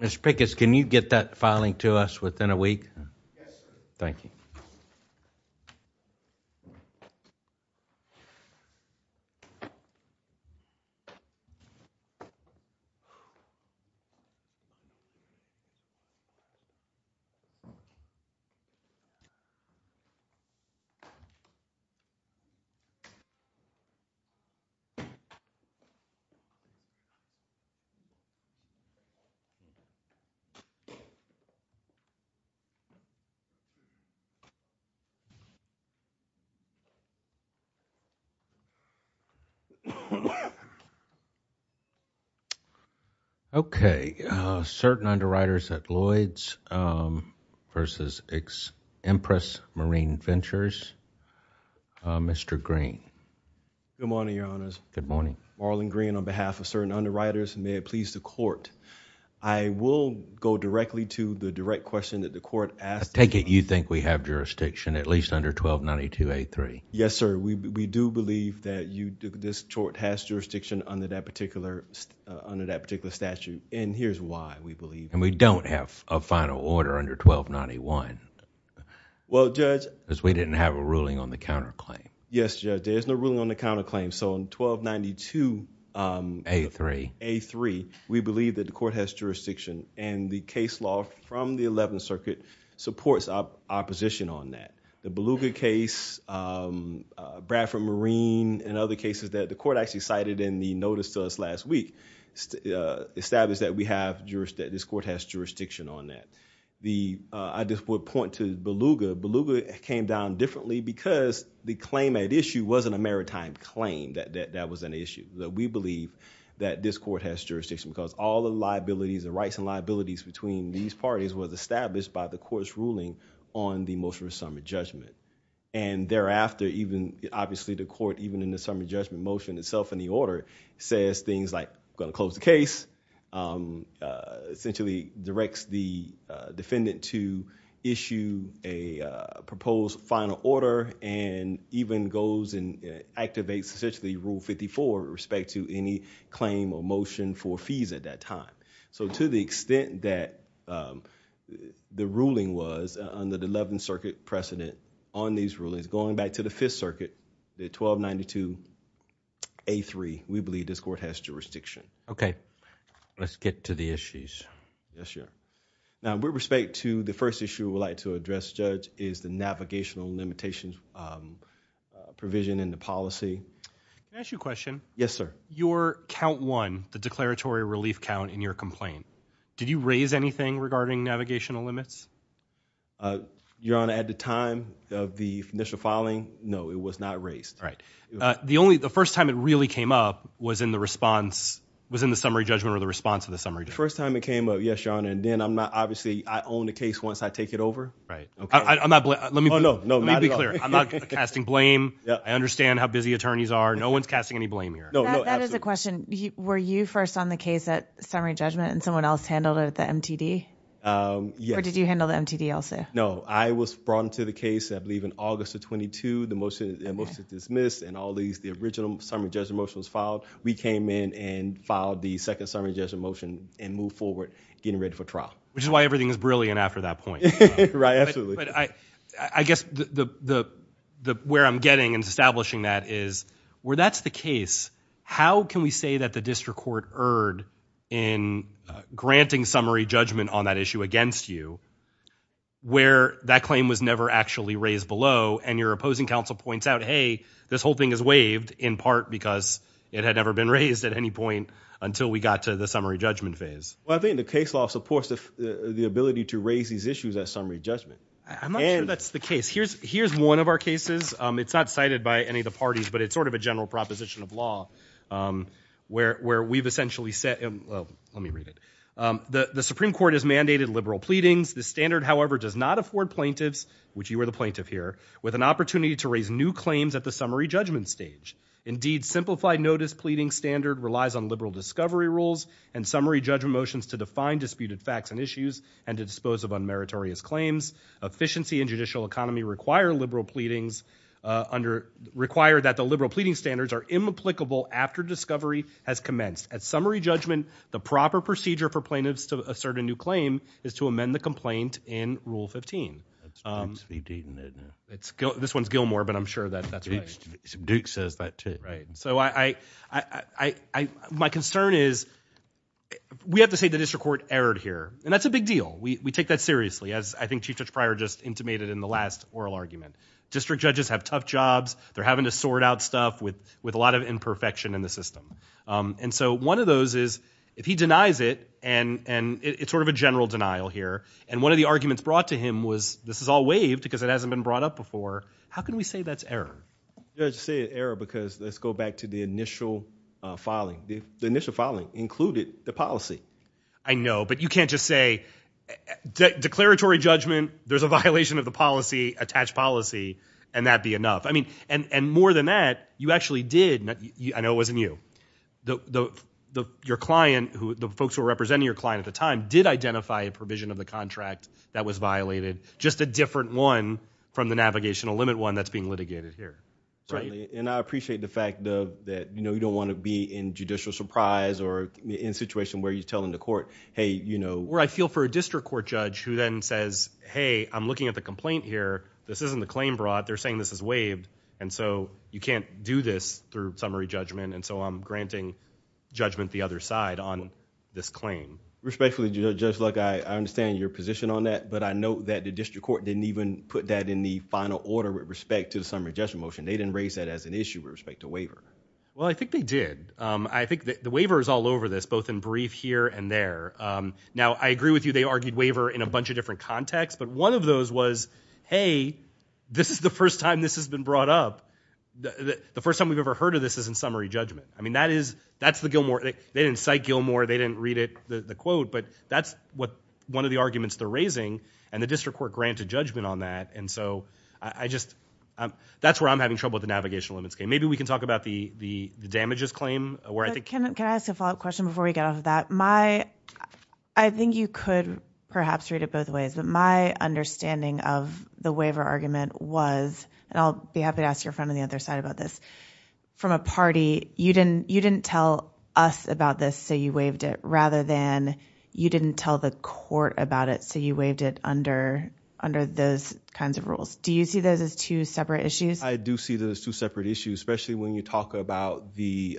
Mr. Pickett, can you get that filing to us within a week? Yes sir. Thank you. Okay, Certain Underwriters at Lloyd's v. Empress Marine Ventures, Mr. Green. Good morning, Your Honors. Good morning. Marlon Green on behalf of Certain Underwriters, and may it please the Court, I will go directly to the direct question that the Court asked. Mr. Pickett, you think we have jurisdiction at least under 1292A3? Yes sir. We do believe that this court has jurisdiction under that particular statute, and here's why we believe that. And we don't have a final order under 1291, because we didn't have a ruling on the counterclaim. Yes, Judge. There's no ruling on the counterclaim. In 1292A3, we believe that the court has jurisdiction, and the case law from the Eleventh Circuit supports our position on that. The Beluga case, Bradford Marine, and other cases that the court actually cited in the notice to us last week, established that we have jurisdiction, that this court has jurisdiction on that. I just would point to Beluga, Beluga came down differently because the claim at issue wasn't a maritime claim, that was an issue. We believe that this court has jurisdiction because all the liabilities, the rights and responsibilities between these parties was established by the court's ruling on the motion of summary judgment. And thereafter, even, obviously the court, even in the summary judgment motion itself in the order, says things like, going to close the case, essentially directs the defendant to issue a proposed final order, and even goes and activates essentially Rule 54 with respect to any claim or motion for fees at that time. So, to the extent that the ruling was on the Eleventh Circuit precedent on these rulings, going back to the Fifth Circuit, the 1292A3, we believe this court has jurisdiction. Okay. Let's get to the issues. Yes, sir. Now, with respect to the first issue we would like to address, Judge, is the navigational limitation provision in the policy. Can I ask you a question? Yes, sir. Your count one, the declaratory relief count in your complaint, did you raise anything regarding navigational limits? Your Honor, at the time of the initial filing, no, it was not raised. Right. The only, the first time it really came up was in the response, was in the summary judgment or the response to the summary judgment. The first time it came up, yes, Your Honor, and then I'm not, obviously, I own the case once I take it over. Right. Okay. I'm not, let me be clear. Oh, no, no, not at all. I'm not casting blame. I understand how busy attorneys are. No one's casting any blame here. No, no, absolutely. That is a question. Were you first on the case at summary judgment and someone else handled it at the MTD? Yes. Or did you handle the MTD also? No. I was brought into the case, I believe, in August of 22, the motion was dismissed and all these, the original summary judgment motion was filed. We came in and filed the second summary judgment motion and moved forward getting ready for trial. Which is why everything is brilliant after that point. Right. Absolutely. But I guess where I'm getting and establishing that is, where that's the case, how can we say that the district court erred in granting summary judgment on that issue against you where that claim was never actually raised below and your opposing counsel points out, hey, this whole thing is waived in part because it had never been raised at any point until we got to the summary judgment phase? Well, I think the case law supports the ability to raise these issues at summary judgment. I'm not sure that's the case. Here's one of our cases. It's not cited by any of the parties, but it's sort of a general proposition of law where we've essentially said, well, let me read it. The Supreme Court has mandated liberal pleadings. The standard, however, does not afford plaintiffs, which you are the plaintiff here, with an opportunity to raise new claims at the summary judgment stage. Indeed, simplified notice pleading standard relies on liberal discovery rules and summary judgment motions to define disputed facts and issues and to dispose of unmeritorious claims. Efficiency and judicial economy require that the liberal pleading standards are imapplicable after discovery has commenced. At summary judgment, the proper procedure for plaintiffs to assert a new claim is to amend the complaint in Rule 15. This one's Gilmore, but I'm sure that's right. Duke says that too. My concern is we have to say the district court erred here, and that's a big deal. We take that seriously, as I think Chief Judge Pryor just intimated in the last oral argument. District judges have tough jobs. They're having to sort out stuff with a lot of imperfection in the system. One of those is if he denies it, and it's sort of a general denial here, and one of the arguments brought to him was this is all waived because it hasn't been brought up before, how can we say that's error? Judge said error because let's go back to the initial filing. The initial filing included the policy. I know, but you can't just say declaratory judgment, there's a violation of the policy, attach policy, and that be enough. More than that, you actually did... I know it wasn't you. Your client, the folks who were representing your client at the time, did identify a provision of the contract that was violated, just a different one from the navigational limit one that's being litigated here. Certainly, and I appreciate the fact that you don't want to be in judicial surprise or in a situation where you're telling the court, hey, you know... Where I feel for a district court judge who then says, hey, I'm looking at the complaint here, this isn't the claim brought, they're saying this is waived, and so you can't do this through summary judgment, and so I'm granting judgment the other side on this claim. Respectfully, Judge Luck, I understand your position on that, but I note that the district court didn't even put that in the final order with respect to the summary judgment motion. They didn't raise that as an issue with respect to waiver. Well, I think they did. I think the waiver is all over this, both in brief here and there. Now, I agree with you, they argued waiver in a bunch of different contexts, but one of those was, hey, this is the first time this has been brought up. The first time we've ever heard of this is in summary judgment. I mean, that's the Gilmore... They didn't cite Gilmore, they didn't read it, the quote, but that's what one of the arguments they're raising, and the district court granted judgment on that, and so I just... That's where I'm having trouble with the navigational limits claim. Maybe we can talk about the damages claim, where I think... Can I ask a follow-up question before we get off of that? I think you could perhaps read it both ways, but my understanding of the waiver argument was, and I'll be happy to ask your friend on the other side about this, from a party, you didn't tell us about this, so you waived it, rather than you didn't tell the court about it, so you waived it under those kinds of rules. Do you see those as two separate issues? I do see those as two separate issues, especially when you talk about the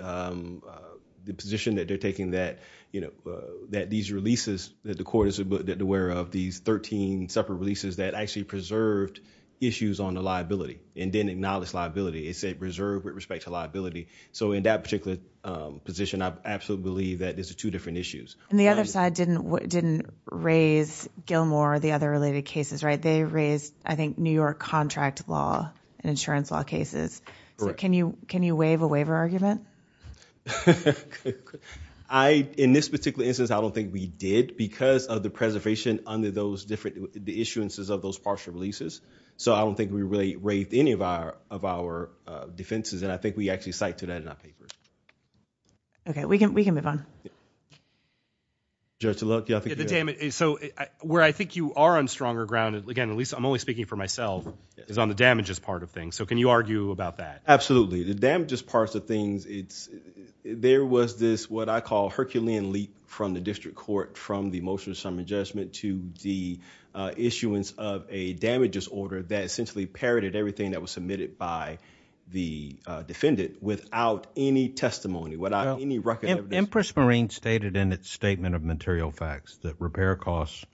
position that they're taking that these releases, that the court is aware of, these 13 separate releases that actually preserved issues on the liability, and didn't acknowledge liability, it said it was preserved with respect to liability. In that particular position, I absolutely believe that these are two different issues. The other side didn't raise Gilmore, or the other related cases, right? They raised, I think, New York contract law, and insurance law cases, so can you waive a waiver argument? In this particular instance, I don't think we did, because of the preservation under those different... The issuances of those partial releases, so I don't think we really waived any of our defenses, and I think we actually cite to that in our papers. Okay, we can move on. Judge Taluk, do you have anything to add? Where I think you are on stronger ground, again, at least I'm only speaking for myself, is on the damages part of things, so can you argue about that? Absolutely. The damages parts of things, there was this, what I call, Herculean leap from the district court, from the motion of summary judgment, to the issuance of a damages order that essentially inherited everything that was submitted by the defendant without any testimony, without any record of... Empress Marine stated in its statement of material facts that repair costs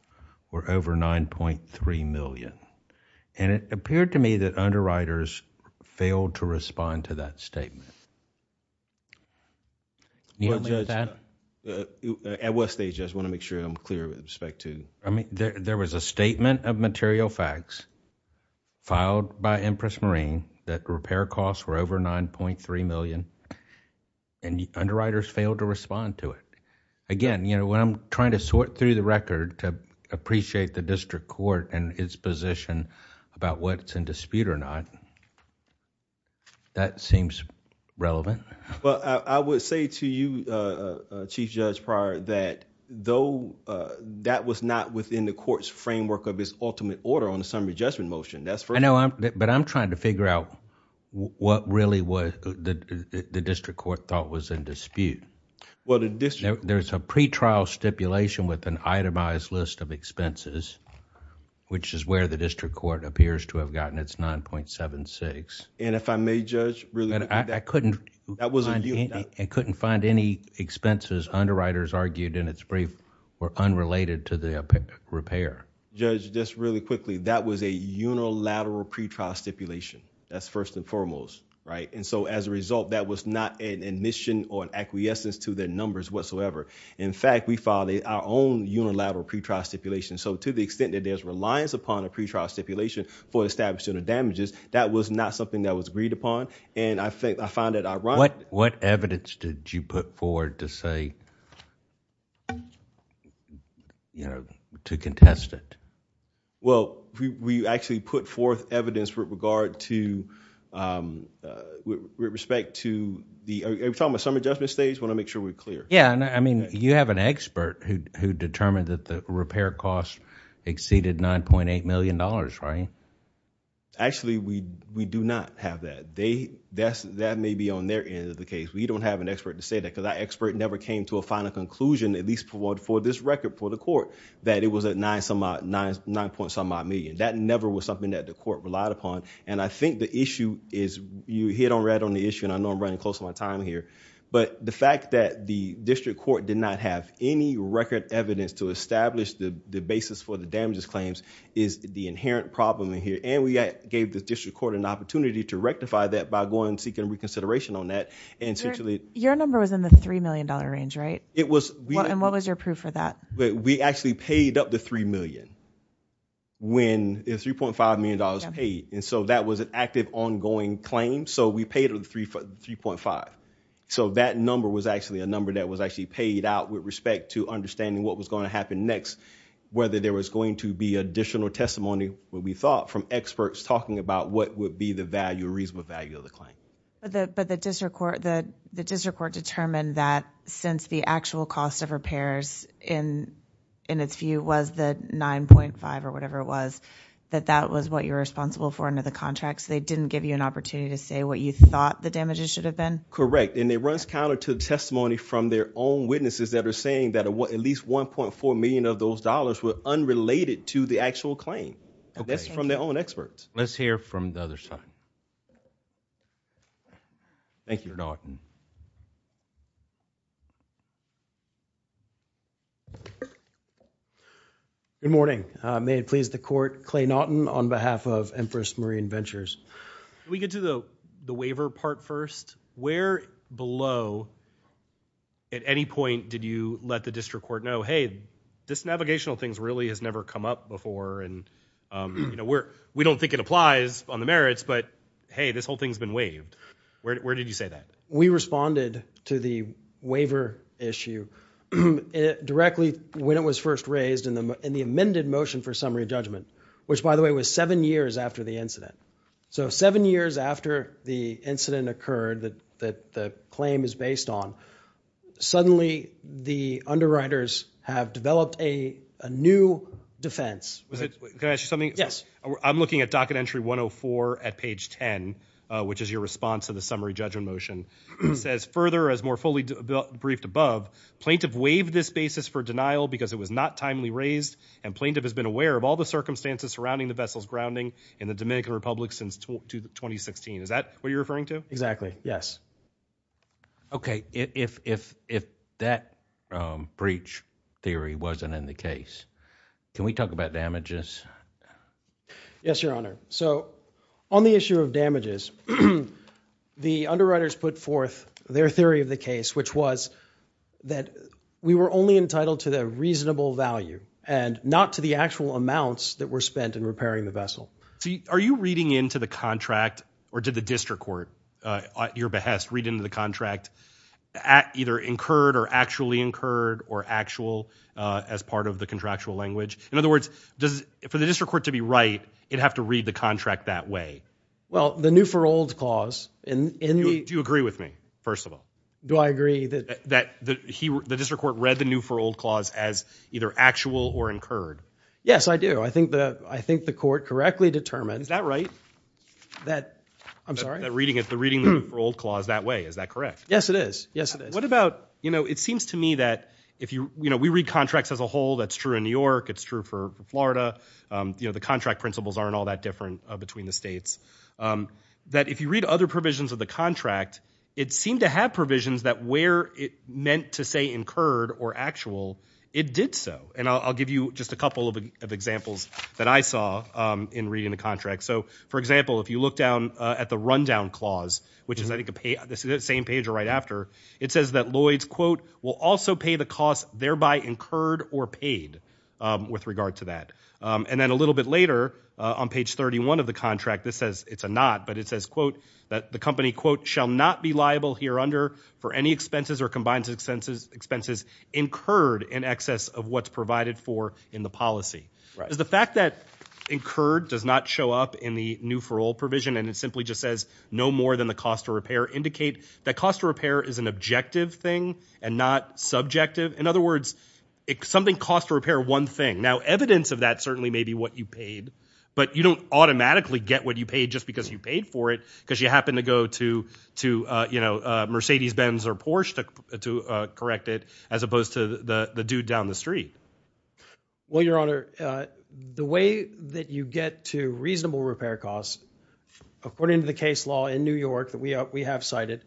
were over $9.3 million, and it appeared to me that underwriters failed to respond to that statement. Can you help me with that? At what stage, Judge, I want to make sure I'm clear with respect to... There was a statement of material facts filed by Empress Marine that repair costs were over $9.3 million, and underwriters failed to respond to it. Again, when I'm trying to sort through the record to appreciate the district court and its position about what's in dispute or not, that seems relevant. I would say to you, Chief Judge Pryor, that though that was not within the court's framework of its ultimate order on the summary judgment motion, that's... I know, but I'm trying to figure out what really the district court thought was in dispute. Well, the district... There's a pretrial stipulation with an itemized list of expenses, which is where the district court appears to have gotten its $9.76. If I may, Judge, really... I couldn't find any expenses underwriters argued in its brief were unrelated to the repair. Judge, just really quickly, that was a unilateral pretrial stipulation. That's first and foremost. As a result, that was not an admission or an acquiescence to their numbers whatsoever. In fact, we filed our own unilateral pretrial stipulation. To the extent that there's reliance upon a pretrial stipulation for establishing the damages, that was not something that was agreed upon. I find it ironic... What evidence did you put forward to say... to contest it? We actually put forth evidence with regard to... with respect to the... Are we talking about summary judgment stage? I want to make sure we're clear. You have an expert who determined that the repair cost exceeded $9.8 million, right? Actually, we do not have that. That may be on their end of the case. We don't have an expert to say that because our expert never came to a final conclusion, at least for this record for the court, that it was at $9.9 million. That never was something that the court relied upon. I think the issue is... you hit on the issue and I know I'm running close to my time here. The fact that the district court did not have any record evidence to establish the basis for the damages claims is the inherent problem in here. We gave the district court an opportunity to rectify that by going and seeking reconsideration on that. Your number was in the $3 million range, right? It was. What was your proof for that? We actually paid up to $3 million when... $3.5 million paid. That was an active, ongoing claim. We paid up to $3.5 million. That number was actually a number that was actually paid out with respect to understanding what was going to happen next, whether there was going to be additional testimony, what we thought, from experts talking about what would be the value, reasonable value of the claim. The district court determined that since the actual cost of repairs in its view was the $9.5 or whatever it was, that that was what you were responsible for under the contract. They didn't give you an opportunity to say what you thought the damages should have been? Correct. It runs counter to testimony from their own witnesses that are saying that at least $1.4 million of those dollars were unrelated to the actual claim. That's from their own experts. Let's hear from the other side. Thank you, Norton. Good morning. May it please the Court, Clay Norton on behalf of Empress Marine Ventures. Can we get to the waiver part first? Where below at any point did you let the district court know, hey, this navigational thing really has never come up before and we don't think it applies on the merits, but hey, this whole thing has been waived. Where did you say that? We responded to the waiver issue directly when it was first raised in the amended motion for summary judgment, which by the way was seven years after the incident. So seven years after the incident occurred that the claim is based on, suddenly the underwriters have developed a new defense. Can I ask you something? Yes. I'm looking at docket entry 104 at page 10, which is your response to the summary judgment motion. It says, further, as more fully briefed above, plaintiff waived this basis for denial because it was not timely raised and plaintiff has been aware of all circumstances surrounding the vessels grounding in the Dominican Republic since 2016. Is that what you're referring to? Exactly. Yes. Okay. If that breach theory wasn't in the case, can we talk about damages? Yes, Your Honor. So on the issue of damages, the underwriters put forth their theory of the case, which was that we were only entitled to the reasonable value and not to the actual amounts that were spent in repairing the vessel. Are you reading into the contract or did the district court at your behest read into the contract either incurred or actually incurred or actual as part of the contractual language? In other words, for the district court to be right, it'd have to read the contract that way. Well, the new for old clause in the- Do you agree with me, first of all? Do I agree that- That the district court read the new for old clause as either actual or incurred? Yes, I do. I think the court correctly determined- Is that right? That- I'm sorry? That reading it, the reading the new for old clause that way. Is that correct? Yes, it is. Yes, it is. What about, you know, it seems to me that if you, you know, we read contracts as a whole. That's true in New York. It's true for Florida. You know, the contract principles aren't all that different between the states. That if you read other provisions of the contract, it seemed to have provisions that where it meant to say incurred or actual, it did so. And I'll give you just a couple of examples that I saw in reading the contract. So, for example, if you look down at the rundown clause, which is I think the same page or right after, it says that Lloyd's, quote, will also pay the cost thereby incurred or paid with regard to that. And then a little bit later, on page 31 of the contract, this says- It's a not. But it says, quote, that the company, quote, shall not be liable here under for any expenses or combined expenses incurred in excess of what's provided for in the policy. The fact that incurred does not show up in the new for all provision and it simply just says no more than the cost of repair indicate that cost of repair is an objective thing and not subjective. In other words, something cost to repair one thing. Now, evidence of that certainly may be what you paid. But you don't automatically get what you paid just because you paid for it because you happen to go to, you know, Mercedes Benz or Porsche to correct it as opposed to the dude down the street. Well, Your Honor, the way that you get to reasonable repair costs, according to the case law in New York that we have cited,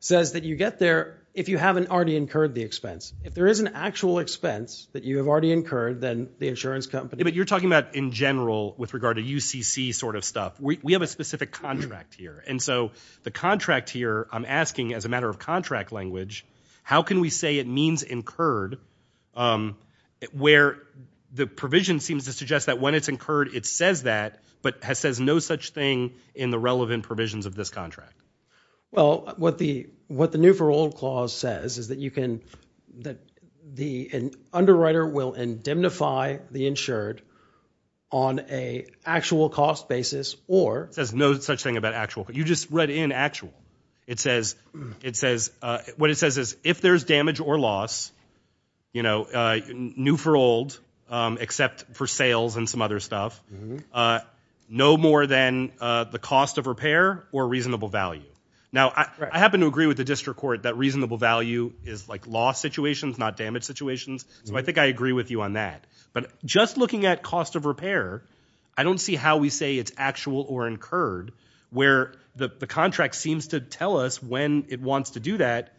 says that you get there if you haven't already incurred the expense. If there is an actual expense that you have already incurred, then the insurance company- You're talking about in general with regard to UCC sort of stuff. We have a specific contract here. And so the contract here, I'm asking as a matter of contract language, how can we say it means incurred where the provision seems to suggest that when it's incurred, it says that but says no such thing in the relevant provisions of this contract? Well, what the new for all clause says is that you can- that the underwriter will indemnify the insured on a actual cost basis or- It says no such thing about actual. You just read in actual. It says- it says- what it says is if there's damage or loss, you know, new for old, except for sales and some other stuff, no more than the cost of repair or reasonable value. Now, I happen to agree with the district court that reasonable value is like loss situations, not damage situations. So I think I agree with you on that. But just looking at cost of repair, I don't see how we say it's actual or incurred where the contract seems to tell us when it wants to do that,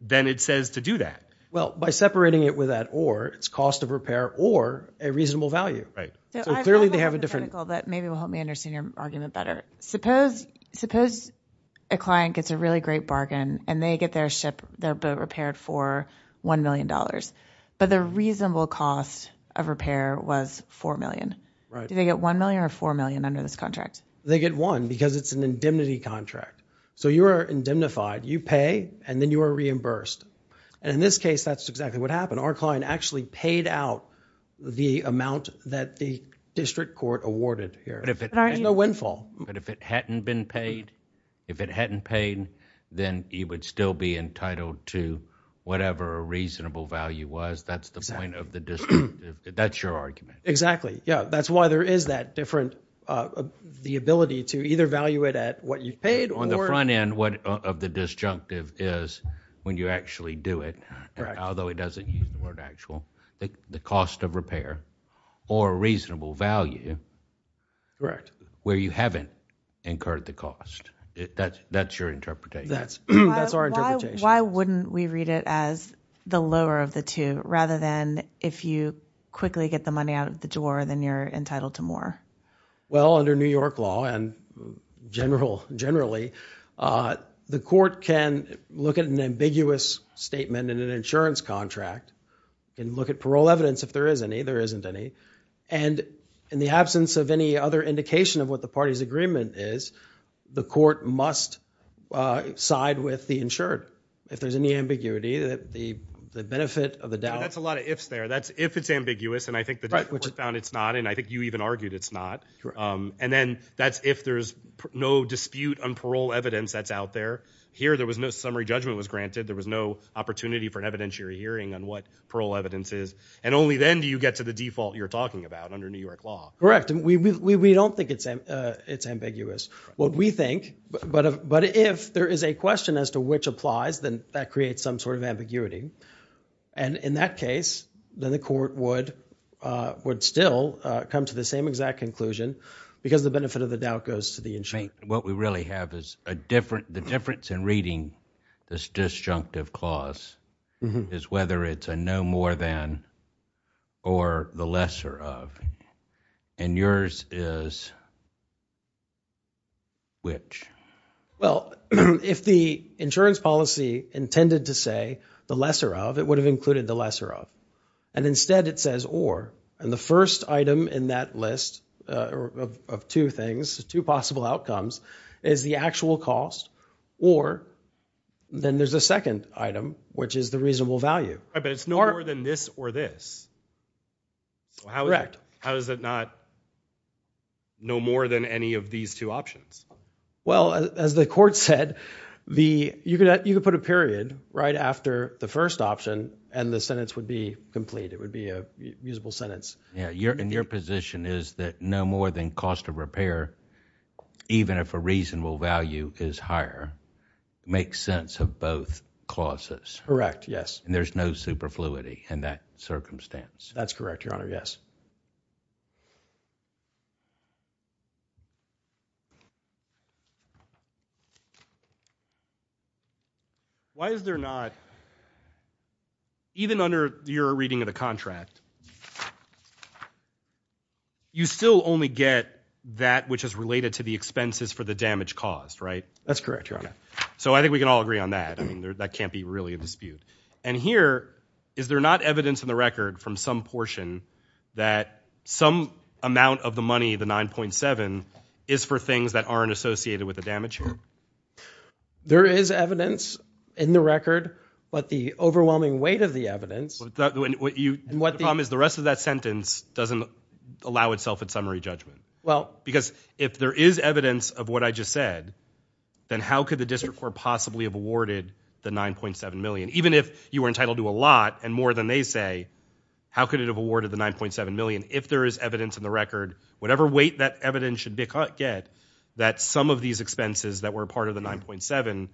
then it says to do that. Well, by separating it with that or, it's cost of repair or a reasonable value. So clearly they have a different- So I have a hypothetical that maybe will help me understand your argument better. Suppose- suppose a client gets a really great bargain and they get their ship repaired for $1 million, but the reasonable cost of repair was $4 Do they get $1 million or $4 million under this contract? They get one because it's an indemnity contract. So you are indemnified. You pay and then you are reimbursed. And in this case, that's exactly what happened. Our client actually paid out the amount that the district court awarded here. But if it- But aren't you- And no windfall. But if it hadn't been paid, if it hadn't paid, then you would still be entitled to whatever a reasonable value was. That's the point of the disjunctive. That's your argument. Yeah. That's why there is that different- the ability to either value it at what you paid or- On the front end, what of the disjunctive is when you actually do it, although it doesn't use the word actual, the cost of repair or reasonable value- Correct. Where you haven't incurred the cost. That's your interpretation. That's our interpretation. Why wouldn't we read it as the lower of the two rather than if you quickly get the money out of the door, then you're entitled to more? Well, under New York law and generally, the court can look at an ambiguous statement in an insurance contract and look at parole evidence if there is any. There isn't any. In the absence of any other indication of what the party's agreement is, the court must side with the insured. If there's any ambiguity, the benefit of the doubt- That's a lot of ifs there. If it's ambiguous, and I think the court found it's not, and I think you even argued it's not, and then that's if there's no dispute on parole evidence that's out there. Here there was no summary judgment was granted. There was no opportunity for an evidentiary hearing on what parole evidence is. Only then do you get to the default you're talking about under New York law. Correct. We don't think it's ambiguous. What we think, but if there is a question as to which applies, then that creates some sort of ambiguity. In that case, then the court would still come to the same exact conclusion because the benefit of the doubt goes to the insured. What we really have is the difference in reading this disjunctive clause is whether it's a no more than or the lesser of, and yours is which? If the insurance policy intended to say the lesser of, it would have included the lesser of, and instead it says or, and the first item in that list of two things, two possible outcomes, is the actual cost, or then there's a second item, which is the reasonable value. But it's no more than this or this. Correct. How is it not no more than any of these two options? As the court said, you could put a period right after the first option and the sentence would be complete. It would be a usable sentence. Your position is that no more than cost of repair, even if a reasonable value is higher, makes sense of both clauses? Yes. And there's no superfluity in that circumstance? That's correct, Your Honor, yes. Why is there not, even under your reading of the contract, you still only get that which is related to the expenses for the damage caused, right? That's correct, Your Honor. So I think we can all agree on that. That can't be really a dispute. And here, is there not evidence in the record from some portion that some amount of the money, the 9.7, is for things that aren't associated with the damage here? There is evidence in the record, but the overwhelming weight of the evidence The problem is the rest of that sentence doesn't allow itself a summary judgment. Because if there is evidence of what I just said, then how could the district court possibly have awarded the 9.7 million? Even if you were entitled to a lot and more than they say, how could it have awarded the 9.7 million if there is evidence in the record, whatever weight that evidence should get, that some of these expenses that were part of the 9.7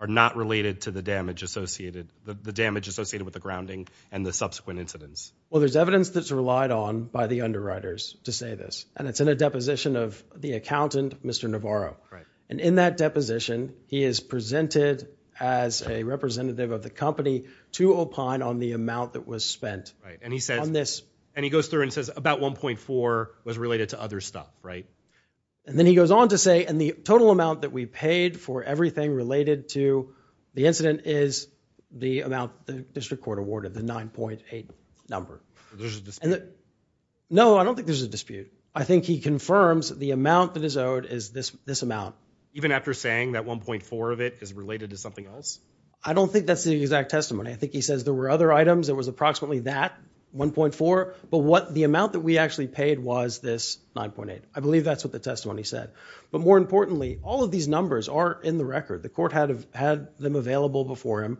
are not related to the damage associated with the grounding and the subsequent incidents? Well, there's evidence that's relied on by the underwriters to say this. And it's in a deposition of the accountant, Mr. Navarro. And in that deposition, he is presented as a representative of the company to opine on the amount that was spent on this. And he goes through and says about 1.4 was related to other stuff, right? And then he goes on to say, and the total amount that we paid for everything related to the incident is the amount the district court awarded, the 9.8 number. There's a dispute. No, I don't think there's a dispute. I think he confirms the amount that is owed is this amount. Even after saying that 1.4 of it is related to something else? I don't think that's the exact testimony. I think he says there were other items that was approximately that, 1.4, but what the amount that we actually paid was this 9.8. I believe that's what the testimony said. But more importantly, all of these numbers are in the record. The court had them available before him,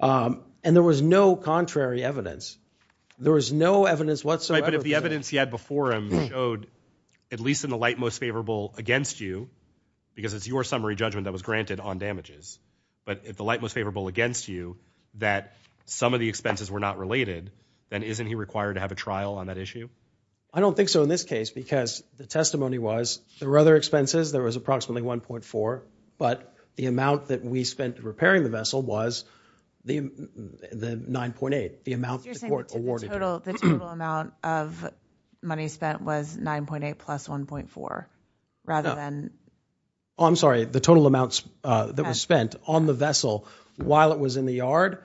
and there was no contrary evidence. There was no evidence whatsoever- But if the evidence he had before him showed, at least in the light most favorable against you, because it's your summary judgment that was granted on damages, but if the light most favorable against you that some of the expenses were not related, then isn't he required to have a trial on that issue? I don't think so in this case because the testimony was There were other expenses, there was approximately 1.4, but the amount that we spent repairing the vessel was the 9.8, the amount the court awarded- You're saying the total amount of money spent was 9.8 plus 1.4, rather than- I'm sorry, the total amounts that was spent on the vessel while it was in the yard?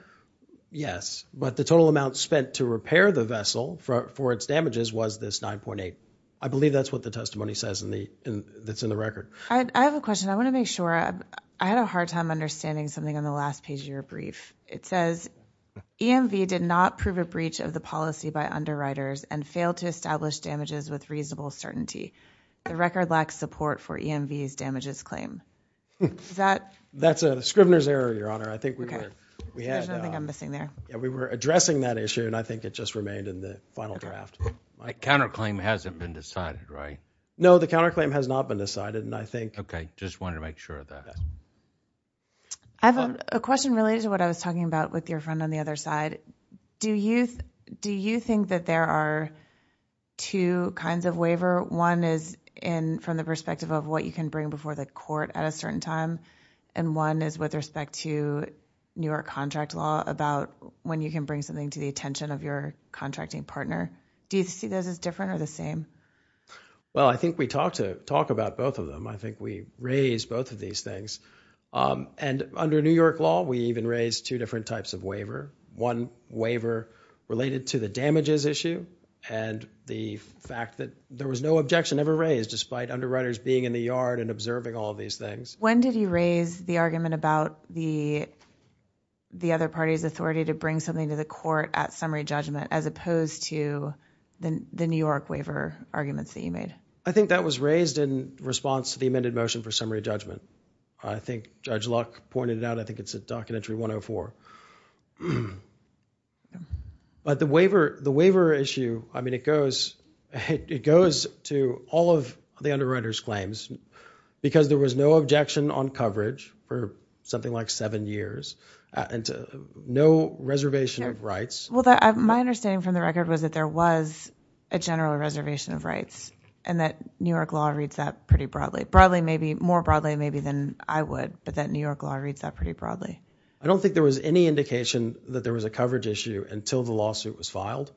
Yes, but the total amount spent to repair the vessel for its damages was this 9.8. I believe that's what the testimony says that's in the record. I have a question. I want to make sure. I had a hard time understanding something on the last page of your brief. It says, EMV did not prove a breach of the policy by underwriters and failed to establish damages with reasonable certainty. The record lacks support for EMV's damages claim. That's a Scrivener's error, Your Honor. I think we were- There's nothing I'm missing there. We were addressing that issue, and I think it just remained in the final draft. My counterclaim hasn't been decided, right? No, the counterclaim has not been decided, and I think- Okay, just wanted to make sure of that. I have a question related to what I was talking about with your friend on the other side. Do you think that there are two kinds of waiver? One is from the perspective of what you can bring before the court at a certain time, and one is with respect to New York contract law about when you can bring something to the attention of your contracting partner. Do you see those as different or the same? Well, I think we talked about both of them. I think we raised both of these things. And under New York law, we even raised two different types of waiver. One waiver related to the damages issue and the fact that there was no objection ever raised despite underwriters being in the yard and observing all these things. When did you raise the argument about the other party's authority to bring something to the court at summary judgment as opposed to the New York waiver arguments that you made? I think that was raised in response to the amended motion for summary judgment. I think Judge Luck pointed it out. I think it's at Documentary 104. But the waiver issue, I mean, it goes to all of the underwriters' claims because there was no objection on coverage for something like seven years and no reservation of rights. Well, my understanding from the record was that there was a general reservation of rights and that New York law reads that pretty broadly. Broadly maybe, more broadly maybe than I would, but that New York law reads that pretty broadly. I don't think there was any indication that there was a coverage issue until the lawsuit was filed.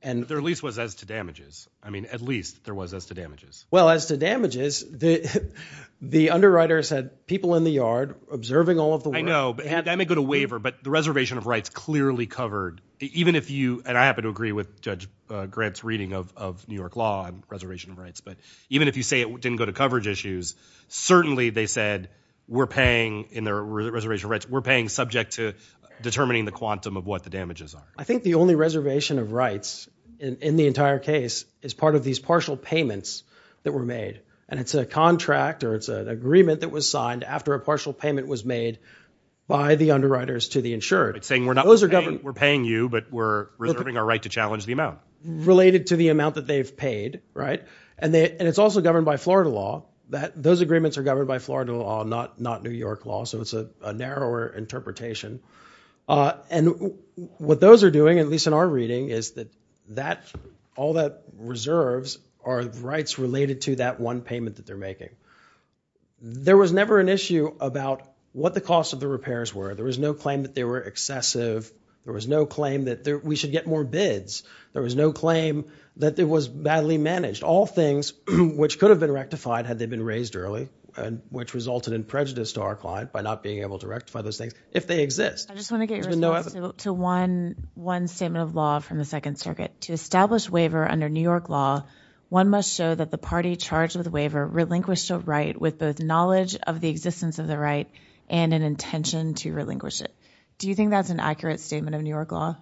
And there at least was as to damages. I mean, at least there was as to damages. Well, as to damages, the underwriters had people in the yard observing all of the work. I know, but I may go to waiver, but the reservation of rights clearly covered. Even if you, and I happen to agree with Judge Grant's reading of New York law on reservation of rights, but even if you say it didn't go to coverage issues, certainly they said we're paying in their reservation of rights, we're paying subject to determining the quantum of what the damages are. I think the only reservation of rights in the entire case is part of these partial payments that were made, and it's a contract or it's an agreement that was signed after a partial payment was made by the underwriters to the insured. It's saying we're paying you, but we're reserving our right to challenge the amount. Related to the amount that they've paid, right? And it's also governed by Florida law. Those agreements are governed by Florida law, not New York law, so it's a narrower interpretation. And what those are doing, at least in our reading, is that all that reserves are rights related to that one payment that they're making. There was never an issue about what the cost of the repairs were. There was no claim that they were excessive. There was no claim that we should get more bids. There was no claim that it was badly managed. All things which could have been rectified had they been raised early, which resulted in prejudice to our client by not being able to rectify those things, if they exist. There's been no evidence. I just want to get your response to one statement of law from the Second Circuit. To establish waiver under New York law, one must show that the party charged with the waiver relinquished a right with both knowledge of the existence of the right and an intention to relinquish it. Do you think that's an accurate statement of New York law?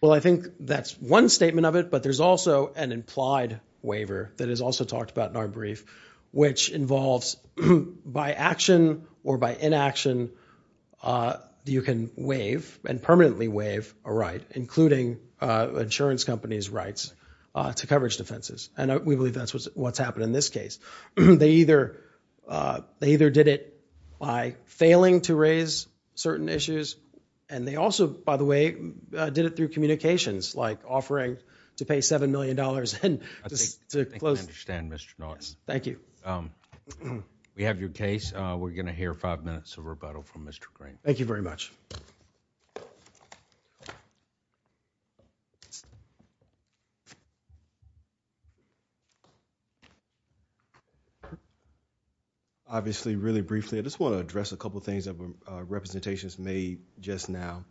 Well, I think that's one statement of it, but there's also an implied waiver that is also talked about in our brief, which involves, by action or by inaction, you can waive and permanently waive a right, including insurance companies' rights to coverage defenses. And we believe that's what's happened in this case. They either did it by failing to raise certain issues. And they also, by the way, did it through communications, like offering to pay $7 million and just to close- I think I understand, Mr. Norton. Thank you. We have your case. We're gonna hear five minutes of rebuttal from Mr. Green. Thank you very much. Thank you. Obviously, really briefly, I just want to address a couple of things that were representations made just now.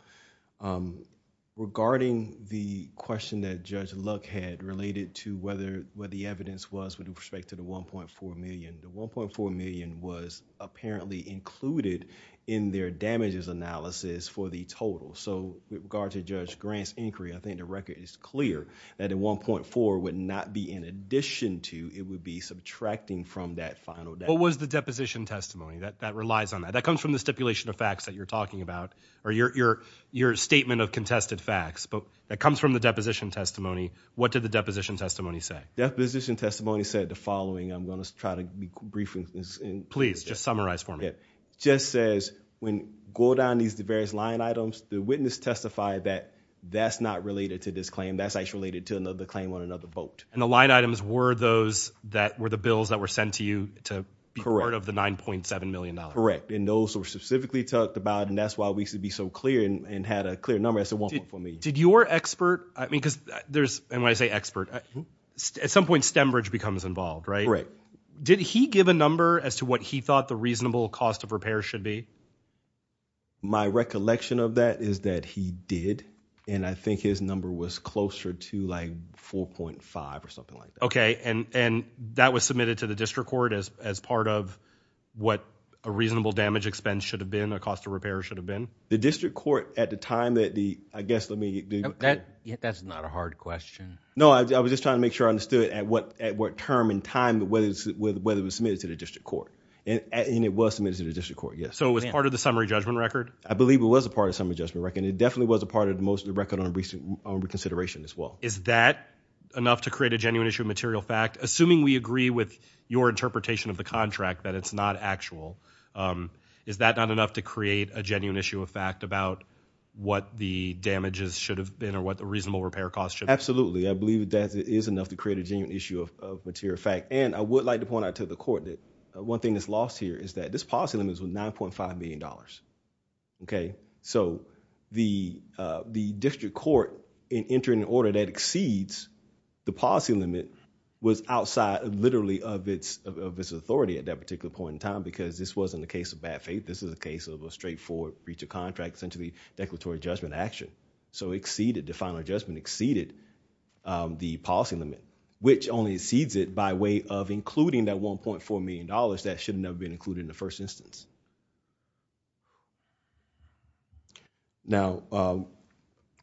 Regarding the question that Judge Luck had related to what the evidence was with respect to the $1.4 million, the $1.4 million was apparently included in their damages analysis for the total. So, with regard to Judge Grant's inquiry, I think the record is clear that the $1.4 would not be in addition to, it would be subtracting from that final- What was the deposition testimony? That relies on that. That comes from the stipulation of facts that you're talking about, or your statement of contested facts. But that comes from the deposition testimony. What did the deposition testimony say? Deposition testimony said the following. I'm going to try to be brief in this. Please, just summarize for me. Just says, when go down these various line items, the witness testified that that's not related to this claim. That's actually related to another claim on another vote. And the line items were those that were the bills that were sent to you to be part of the $9.7 million? Correct. And those were specifically talked about, and that's why we used to be so clear and had a clear number. That's the one point for me. Did your expert, I mean, because there's, and when I say expert, at some point, Stembridge becomes involved, right? Correct. Did he give a number as to what he thought the reasonable cost of repair should be? My recollection of that is that he did, and I think his number was closer to like 4.5 or something like that. OK, and that was submitted to the district court as part of what a reasonable damage expense should have been, the cost of repair should have been? The district court at the time that the, I guess, let me do that. That's not a hard question. No, I was just trying to make sure I understood at what term and time, whether it was submitted to the district court. And it was submitted to the district court, yes. So it was part of the summary judgment record? I believe it was a part of the summary judgment record, and it definitely was a part of most of the record on reconsideration as well. Is that enough to create a genuine issue of material fact? Assuming we agree with your interpretation of the contract that it's not actual, is that not enough to create a genuine issue of fact about what the damages should have been or what the reasonable repair cost should be? Absolutely. I believe that it is enough to create a genuine issue of material fact. And I would like to point out to the court that one thing that's lost here is that this policy limit is $9.5 million. So the district court in entering an order that exceeds the policy limit was outside literally of its authority at that particular point in time because this wasn't a case of bad faith. This is a case of a straightforward breach of contract sent to the declaratory judgment action. So it exceeded, the final adjustment exceeded the policy limit, which only exceeds it by way of including that $1.4 million that shouldn't have been included in the first instance. Now,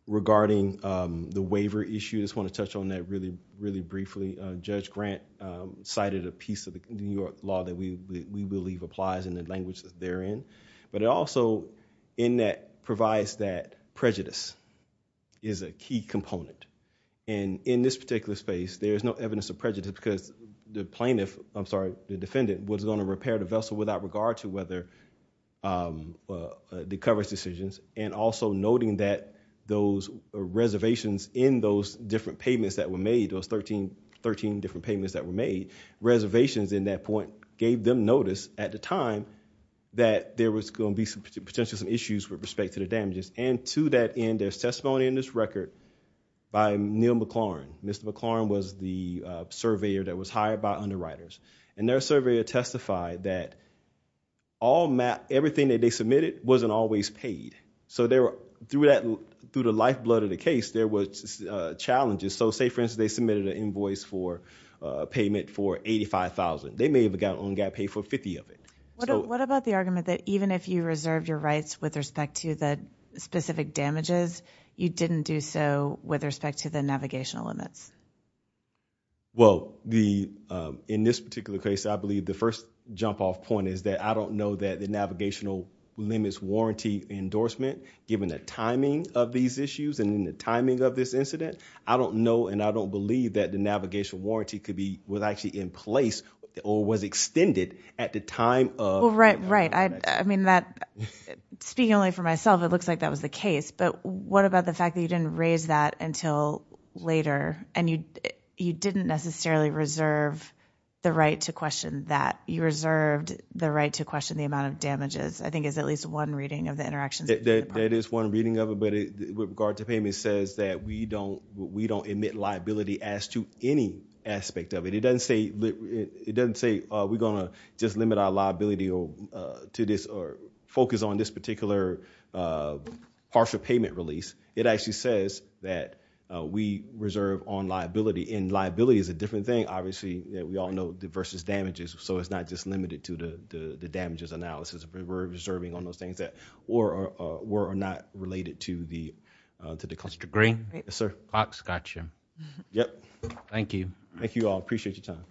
regarding the waiver issue, I just want to touch on that really, really briefly. Judge Grant cited a piece of the New York law that we believe applies in the language that they're in. But it also in that provides that prejudice is a key component. And in this particular space, there is no evidence of prejudice because the plaintiff, I'm sorry, the defendant was going to repair the vessel without regard to whether the coverage decisions. And also noting that those reservations in those different payments that were made, those 13 different payments that were made, reservations in that point gave them notice at the time that there was going to be some potential issues with respect to the damages. And to that end, there's testimony in this record by Neil McLaurin. Mr. McLaurin was the surveyor that was hired by underwriters. And their surveyor testified that everything that they submitted wasn't always paid. So through the lifeblood of the case, there was challenges. So say, for instance, they submitted an invoice for payment for $85,000. They may have only got paid for 50 of it. What about the argument that even if you reserved your rights with respect to the specific damages, you didn't do so with respect to the navigational limits? Well, in this particular case, I believe the first jump off point is that I don't know that the navigational limits warranty endorsement, given the timing of these issues and in the timing of this incident, I don't know and I don't believe that the navigational warranty was actually in place or was extended at the time of the navigational impact. Right. I mean, speaking only for myself, it looks like that was the case. But what about the fact that you didn't raise that until later and you didn't necessarily reserve the right to question that? You reserved the right to question the amount of damages, I think is at least one reading of the interactions. That is one reading of it. But with regard to payment says that we don't admit liability as to any aspect of it. It doesn't say we're going to just limit our liability to this or focus on this particular partial payment release. It actually says that we reserve on liability. And liability is a different thing. Obviously, we all know versus damages. So it's not just limited to the damages analysis. We're reserving on those things that were or not related to the cluster. Yes, sir. Fox, got you. Yep. Thank you. Thank you all. Appreciate your time.